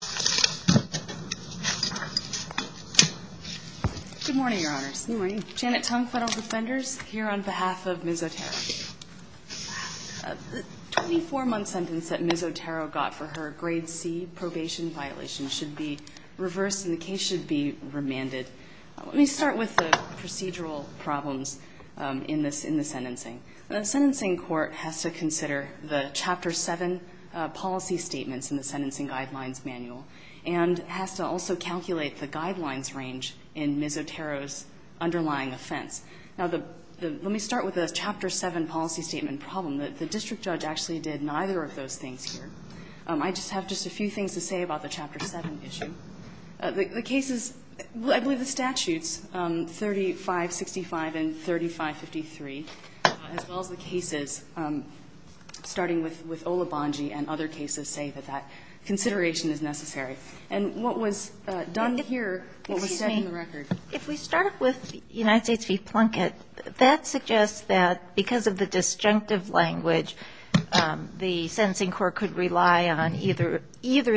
The 24-month sentence that Ms. Otero got for her grade C probation violation should be reversed and the case should be remanded. Let me start with the procedural problems in the sentencing. The sentencing court has to consider the Chapter 7 policy statements in the Sentencing Guidelines Manual and has to also calculate the guidelines range in Ms. Otero's underlying offense. Now, let me start with the Chapter 7 policy statement problem. The district judge actually did neither of those things here. I just have just a few things to say about the Chapter 7 issue. The cases, I believe the statutes 3565 and 3553, as well as the cases starting with Olobongi and other cases, say that that consideration is necessary. And what was done here, what was set in the record? If we start with United States v. Plunkett, that suggests that because of the disjunctive language, the sentencing court could rely on either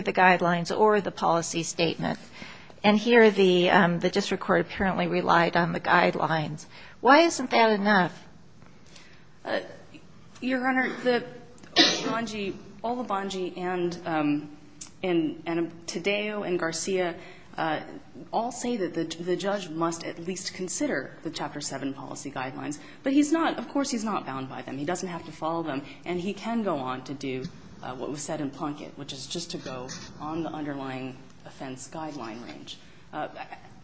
the guidelines or the policy statement. And here the district court apparently relied on the guidelines. Why isn't that enough? Your Honor, the Olobongi and Taddeo and Garcia all say that the judge must at least consider the Chapter 7 policy guidelines. But he's not, of course, he's not bound by them. He doesn't have to follow them. And he can go on to do what was said in Plunkett, which is just to go on the underlying offense guideline range.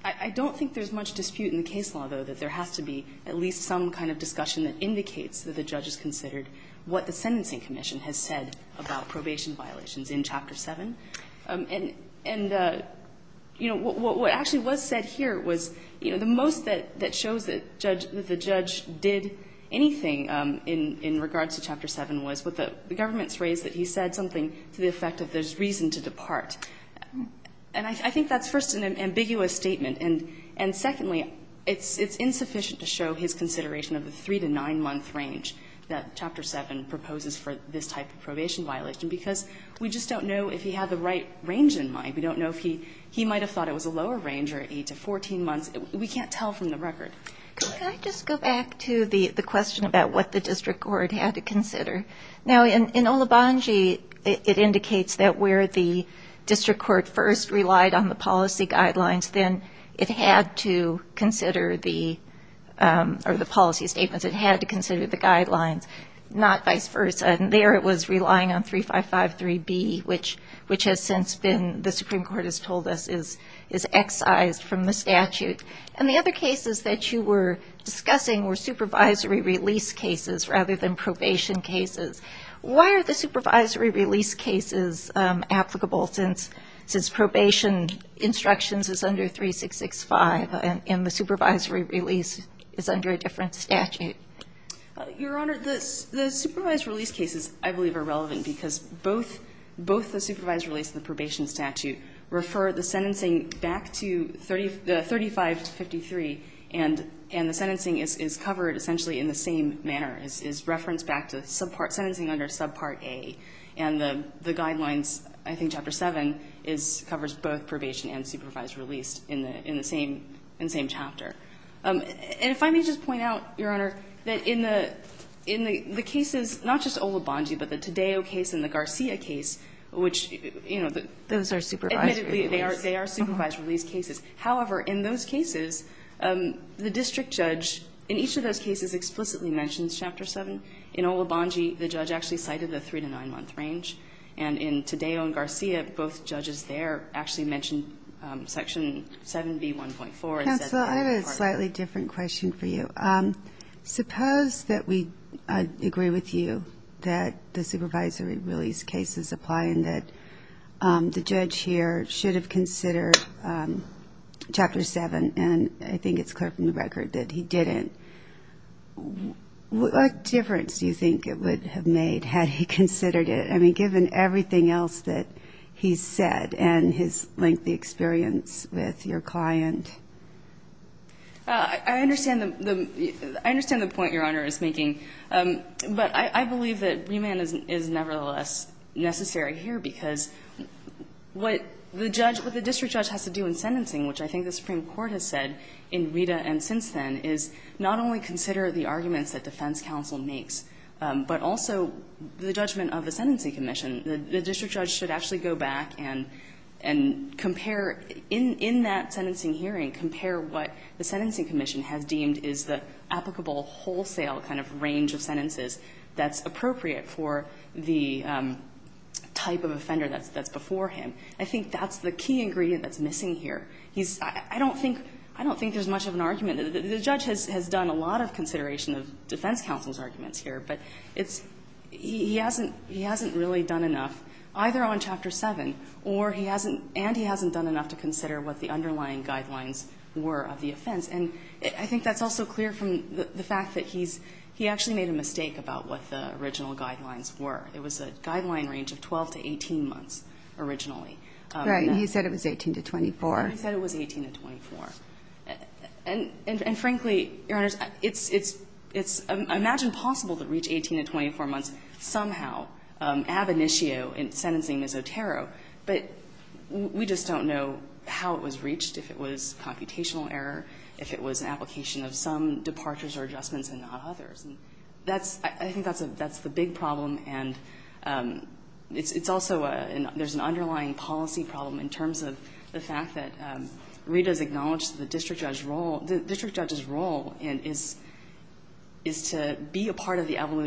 I don't think there's much dispute in the case law, though, that there has to be at least some kind of discussion that indicates that the judge has considered what the Sentencing Commission has said about probation violations in Chapter 7. And, you know, what actually was said here was, you know, the most that shows that the judge did anything in regards to Chapter 7 was what the government's raised, that he said something to the effect of there's reason to depart. And I think that's, first, an ambiguous statement. And secondly, it's insufficient to show his consideration of the 3- to 9-month range that Chapter 7 proposes for this type of probation violation, because we just don't know if he had the right range in mind. We don't know if he might have thought it was a lower range or 8 to 14 months. We can't tell from the record. Go ahead. Can I just go back to the question about what the district court had to consider? Now, in Olobunji, it indicates that where the district court first relied on the policy guidelines, then it had to consider the policy statements. It had to consider the guidelines, not vice versa. And there it was relying on 3553B, which has since been, the Supreme Court has told us, is excised from the statute. And the other cases that you were discussing were supervisory release cases rather than probation cases. Why are the supervisory release cases applicable since probation instructions is under 3665 and the supervisory release is under a different statute? Your Honor, the supervisory release cases, I believe, are relevant because both the supervisory release and the probation statute refer the sentencing back to the 35 to 53, and the sentencing is covered essentially in the same manner, is referenced back to the subpart, sentencing under subpart A. And the guidelines, I think Chapter 7, covers both probation and supervised release in the same chapter. And if I may just point out, Your Honor, that in the cases, not just Olobunji, but the Taddeo case and the Garcia case, which, you know, the admittedly, they are supervised release cases. However, in those cases, the district judge, in each of those cases, explicitly mentions Chapter 7. In Olobunji, the judge actually cited the 3- to 9-month range. And in Taddeo and Garcia, both judges there actually mentioned Section 7B.1.4. Counsel, I have a slightly different question for you. Suppose that we agree with you that the supervisory release cases apply and that the judge here should have considered Chapter 7. And I think it's clear from the record that he didn't. What difference do you think it would have made had he considered it? I mean, given everything else that he said and his lengthy experience with your client. I understand the point Your Honor is making. But I believe that remand is nevertheless necessary here, because what the judge or the district judge has to do in sentencing, which I think the Supreme Court has said in Rita and since then, is not only consider the arguments that defense counsel makes, but also the judgment of the sentencing commission. The district judge should actually go back and compare, in that sentencing hearing, compare what the sentencing commission has deemed is the applicable wholesale kind of range of sentences that's appropriate for the type of offender that's before him. I think that's the key ingredient that's missing here. I don't think there's much of an argument. The judge has done a lot of consideration of defense counsel's arguments here, but he hasn't really done enough, either on Chapter 7 or he hasn't, and he hasn't done enough to consider what the underlying guidelines were of the offense. And I think that's also clear from the fact that he's, he actually made a mistake about what the original guidelines were. It was a guideline range of 12 to 18 months originally. Right. And he said it was 18 to 24. He said it was 18 to 24. And frankly, Your Honor, it's, it's, it's, I imagine possible to reach 18 to 24 months somehow ab initio in sentencing misotero, but we just don't know how it was reached, if it was computational error, if it was an application of some departures or adjustments and not others. And that's, I think that's a, that's the big problem, and it's, it's also a, there's an underlying policy problem in terms of the fact that Rita has acknowledged that the district judge's role, the district judge's role is, is to be a part of the development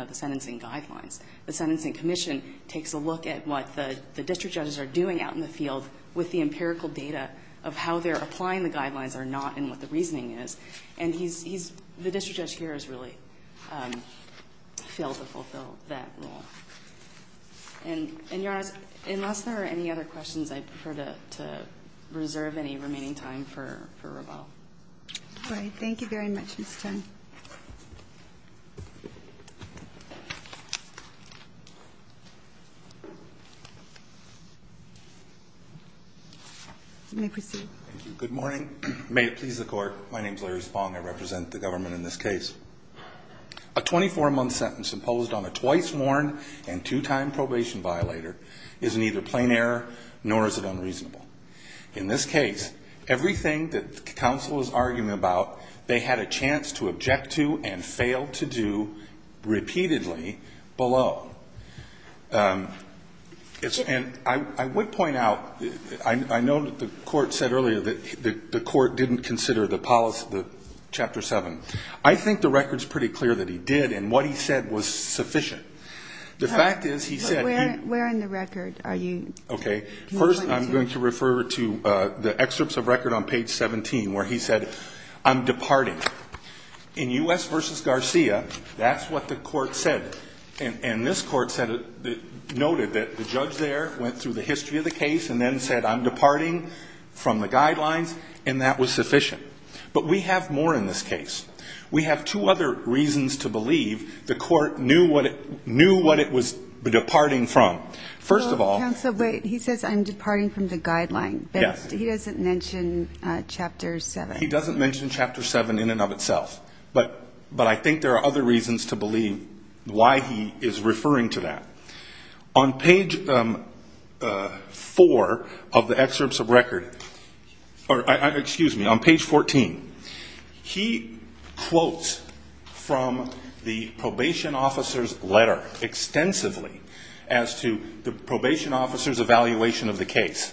of the sentencing guidelines. The Sentencing Commission takes a look at what the, the district judges are doing out in the field with the empirical data of how they're applying the guidelines or not and what the reasoning is. And he's, he's, the district judge here has really failed to fulfill that role. And, and Your Honor, unless there are any other questions, I'd prefer to, to reserve any remaining time for, for rebuttal. All right. Thank you very much, Mr. Chen. You may proceed. Thank you. Good morning. May it please the Court. My name is Larry Spong. I represent the government in this case. A 24-month sentence imposed on a twice-morn and two-time probation violator is neither plain error nor is it unreasonable. In this case, everything that the counsel is arguing about, they had a chance to object to and failed to do repeatedly below. And I, I would point out, I, I know that the Court said earlier that the, the Court didn't consider the policy, the Chapter 7. I think the record's pretty clear that he did and what he said was sufficient. The fact is, he said he... But where, where in the record are you... Okay. First, I'm going to refer to the excerpts of record on page 17 where he said, I'm departing. In U.S. v. Garcia, that's what the Court said. And, and this Court said, noted that the judge there went through the history of the case and then said, I'm departing from the guidelines, and that was sufficient. But we have more in this case. We have two other reasons to believe the Court knew what, knew what it was departing from. First of all... Counsel, wait. He says, I'm departing from the guidelines. Yes. But he doesn't mention Chapter 7. He doesn't mention Chapter 7 in and of itself. But, but I think there are other reasons to believe why he is referring to that. On page 4 of the excerpts of record, or, excuse me, on page 14, he quotes from the probation officer's evaluation of the case.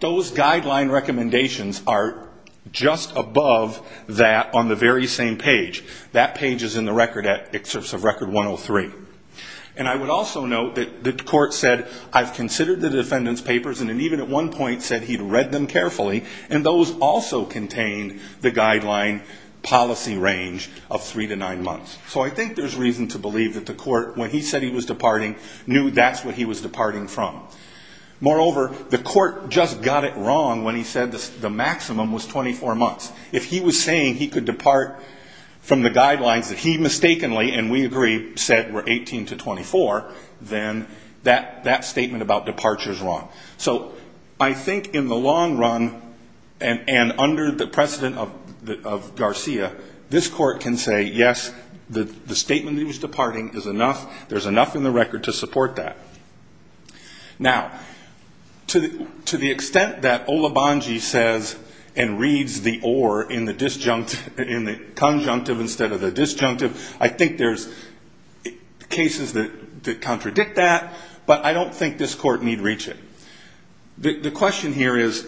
Those guideline recommendations are just above that on the very same page. That page is in the record, excerpts of record 103. And I would also note that the Court said, I've considered the defendant's papers, and then even at one point said he'd read them carefully, and those also contained the guideline policy range of three to nine months. So I think there's reason to believe that the Court, when he said he was departing, knew that's what he was departing from. Moreover, the Court just got it wrong when he said the maximum was 24 months. If he was saying he could depart from the guidelines that he mistakenly, and we agree, said were 18 to 24, then that statement about departure is wrong. So I think in the long run, and under the precedent of Garcia, this Court can say, yes, the statement that he was departing is enough. There's enough in the record to support that. Now, to the extent that Olubandji says and reads the or in the conjunctive instead of the disjunctive, I think there's cases that contradict that, but I don't think this Court need reach it. The question here is,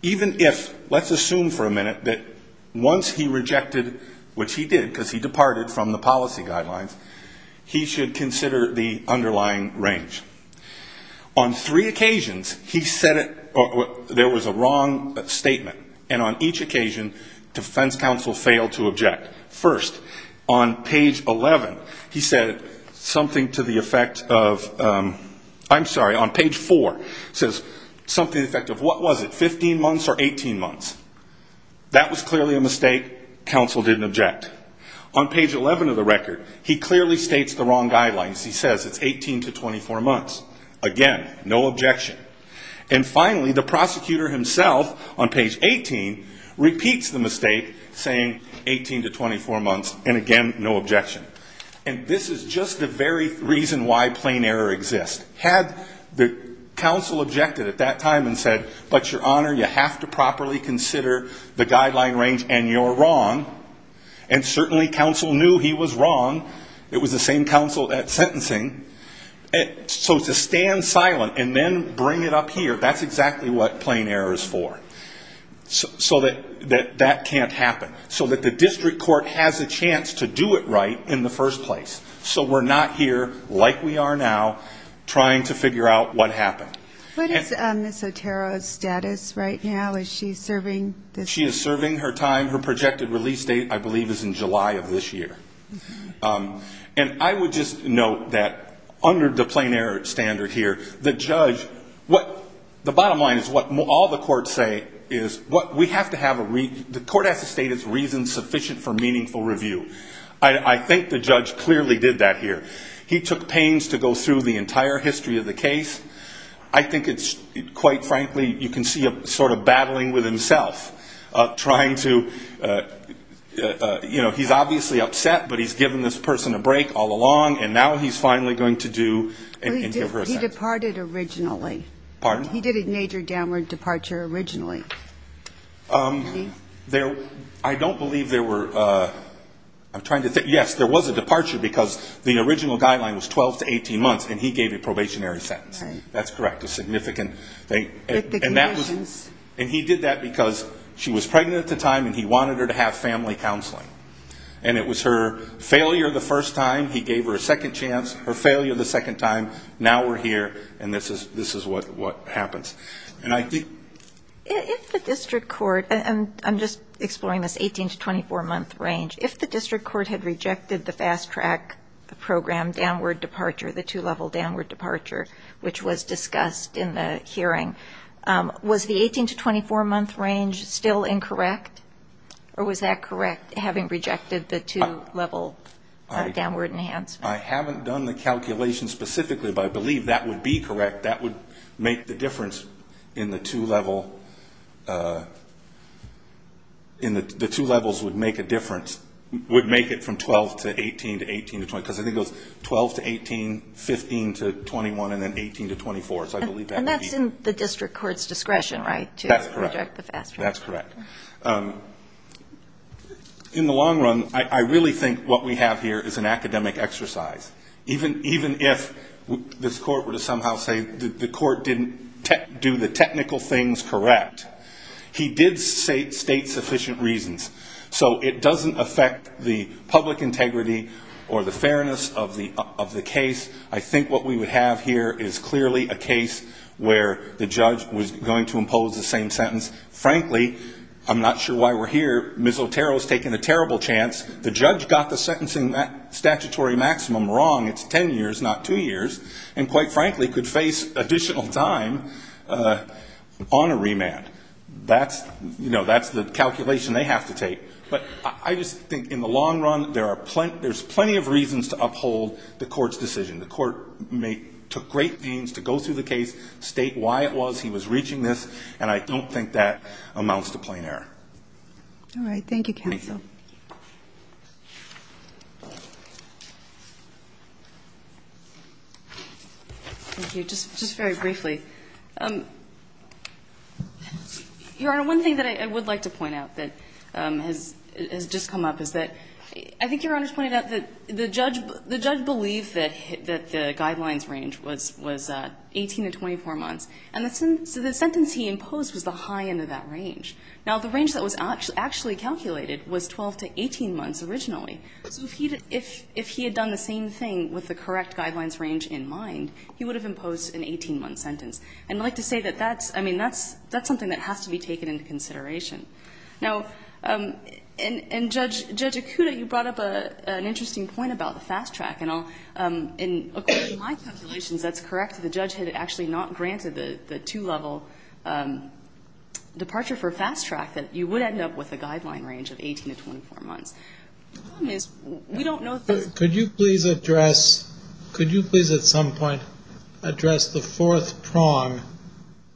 even if, let's assume for a minute that once he rejected, which he did because he departed from the policy guidelines, he should consider the underlying range. On three occasions, he said there was a wrong statement, and on each occasion, defense counsel failed to object. First, on page 11, he said something to the effect of, I'm sorry, on page 4, says something to the effect of, what was it, 15 months or 18 months? That was clearly a mistake. Counsel didn't object. On page 11 of the record, he clearly states the wrong guidelines. He says it's 18 to 24 months. Again, no objection. And finally, the prosecutor himself on page 18 repeats the mistake, saying 18 to 24 months, and again, no objection. And this is just the very reason why plain error exists. Had the counsel objected at that time and said, but, Your Honor, you have to properly consider the guideline range, and you're wrong, and certainly counsel knew he was wrong, it was the same counsel at sentencing, so to stand silent and then bring it up here, that's exactly what plain error is for. So that that can't happen. So that the district court has a chance to do it right in the first place. So we're not here, like we are now, trying to figure out what happened. What is Ms. Otero's status right now? Is she serving this year? She is serving her time. Her projected release date, I believe, is in July of this year. And I would just note that under the plain error standard here, the judge, what, the bottom line is what all the courts say is what we have to have a reason, the court has to state it's reason sufficient for meaningful review. I think the judge clearly did that here. He took pains to go through the entire history of the case. I think it's, quite frankly, you can see him sort of battling with himself, trying to, you know, he's obviously upset, but he's given this person a break all along, and now he's finally going to do and give her a second chance. He departed originally. Pardon? He did a major downward departure originally. I don't believe there were, I'm trying to think. Yes, there was a departure because the original guideline was 12 to 18 months, and he gave a probationary sentence. That's correct, a significant thing. And that was, and he did that because she was pregnant at the time, and he wanted her to have family counseling. And it was her failure the first time, he gave her a second chance, her failure the second time, now we're here, and this is what happens. If the district court, and I'm just exploring this 18 to 24-month range, if the district court had rejected the fast track program downward departure, the two-level downward departure, which was discussed in the hearing, was the 18 to 24-month range still incorrect? Or was that correct, having rejected the two-level downward enhancement? I haven't done the calculation specifically, but I believe that would be correct. That would make the difference in the two-level, the two levels would make a difference, would make it from 12 to 18 to 18 to 20, because I think it was 12 to 18, 15 to 21, and then 18 to 24. And that's in the district court's discretion, right, to reject the fast track? That's correct. In the long run, I really think what we have here is an academic exercise. Even if this court were to somehow say the court didn't do the technical things correct, he did state sufficient reasons. So it doesn't affect the public integrity or the fairness of the case. I think what we would have here is clearly a case where the judge was going to impose the same sentence. Frankly, I'm not sure why we're here, Ms. Otero's taken a terrible chance. The judge got the sentencing statutory maximum wrong, it's 10 years, not two years, and quite frankly could face additional time on a remand. That's the calculation they have to take. But I just think in the long run, there's plenty of reasons to uphold the court's decision. The court took great pains to go through the case, state why it was he was reaching this, and I don't think that amounts to plain error. All right. Thank you, counsel. Thank you. Just very briefly. Your Honor, one thing that I would like to point out that has just come up is that I think Your Honor's pointed out that the judge believed that the guidelines range was 18 to 24 months, and so the sentence he imposed was the high end of that range. Now, the range that was actually calculated was 12 to 18 months originally. So if he had done the same thing with the correct guidelines range in mind, he would have imposed an 18-month sentence. And I'd like to say that that's, I mean, that's something that has to be taken into consideration. Now, in Judge Acuda, you brought up an interesting point about the fast track. And according to my calculations, that's correct. The judge had actually not granted the two-level departure for fast track, that you would end up with a guideline range of 18 to 24 months. The problem is, we don't know if this is true. Could you please address, could you please at some point address the fourth prong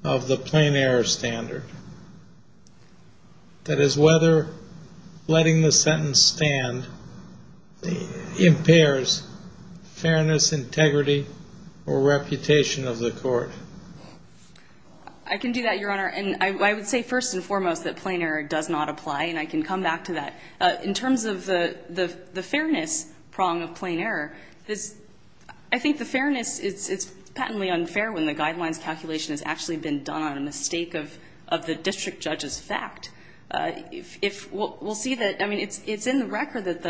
of the plain error standard, that is whether letting the sentence stand impairs fairness, integrity, or reputation of the court? I can do that, Your Honor. And I would say first and foremost that plain error does not apply. And I can come back to that. In terms of the fairness prong of plain error, I think the fairness, it's patently unfair when the guidelines calculation has actually been done on a mistake of the district judge's fact. We'll see that, I mean, it's in the record that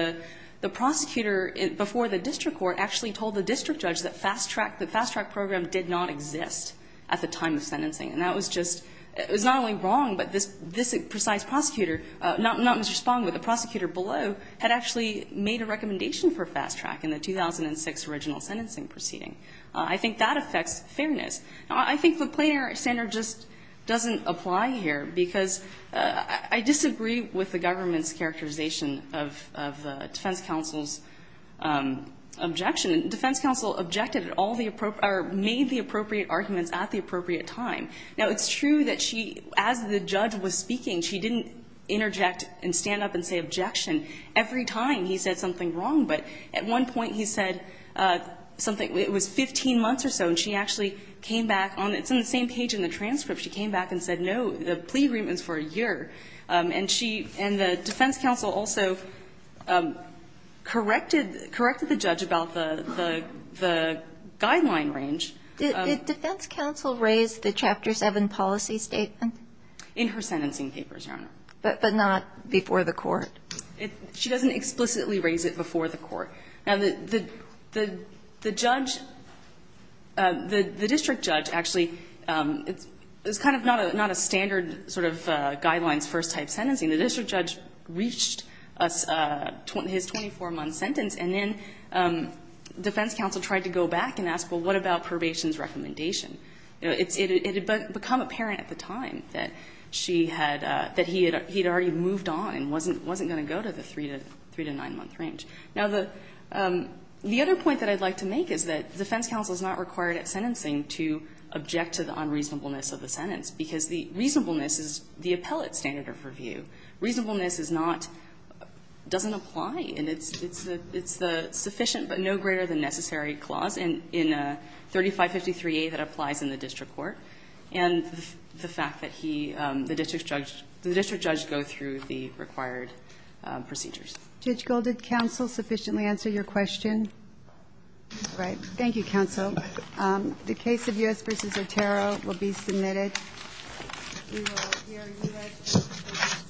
the prosecutor before the district court actually told the district judge that fast track, the fast track program did not exist at the time of sentencing. And that was just, it was not only wrong, but this precise prosecutor, not Mr. Spong, but the prosecutor below had actually made a recommendation for fast track in the 2006 original sentencing proceeding. I think that affects fairness. Now, I think the plain error standard just doesn't apply here, because I disagree with the government's characterization of the defense counsel's objection. Defense counsel objected at all the appropriate, or made the appropriate arguments at the appropriate time. Now, it's true that she, as the judge was speaking, she didn't interject and stand up and say objection every time he said something wrong. But at one point he said something, it was 15 months or so, and she actually came back on, it's on the same page in the transcript, she came back and said no, the plea agreement's for a year. And she, and the defense counsel also corrected, corrected the judge about the, the guideline range. Did defense counsel raise the Chapter 7 policy statement? In her sentencing papers, Your Honor. But not before the court? She doesn't explicitly raise it before the court. Now, the judge, the district judge actually, it's kind of not a standard sort of guidelines first type sentencing. The district judge reached his 24-month sentence, and then defense counsel tried to go back and ask, well, what about probation's recommendation? It had become apparent at the time that she had, that he had already moved on and wasn't going to go to the 3 to, 3 to 9-month range. Now, the, the other point that I'd like to make is that defense counsel is not required at sentencing to object to the unreasonableness of the sentence, because the reasonableness is the appellate standard of review. Reasonableness is not, doesn't apply, and it's, it's the, it's the sufficient but no greater than necessary clause in, in 3553a that applies in the district court, and the fact that he, the district judge, the district judge go through the required procedures. Judge Gold, did counsel sufficiently answer your question? All right. Thank you, counsel. The case of U.S. v. Otero will be submitted. We will hear U.S. sentencing.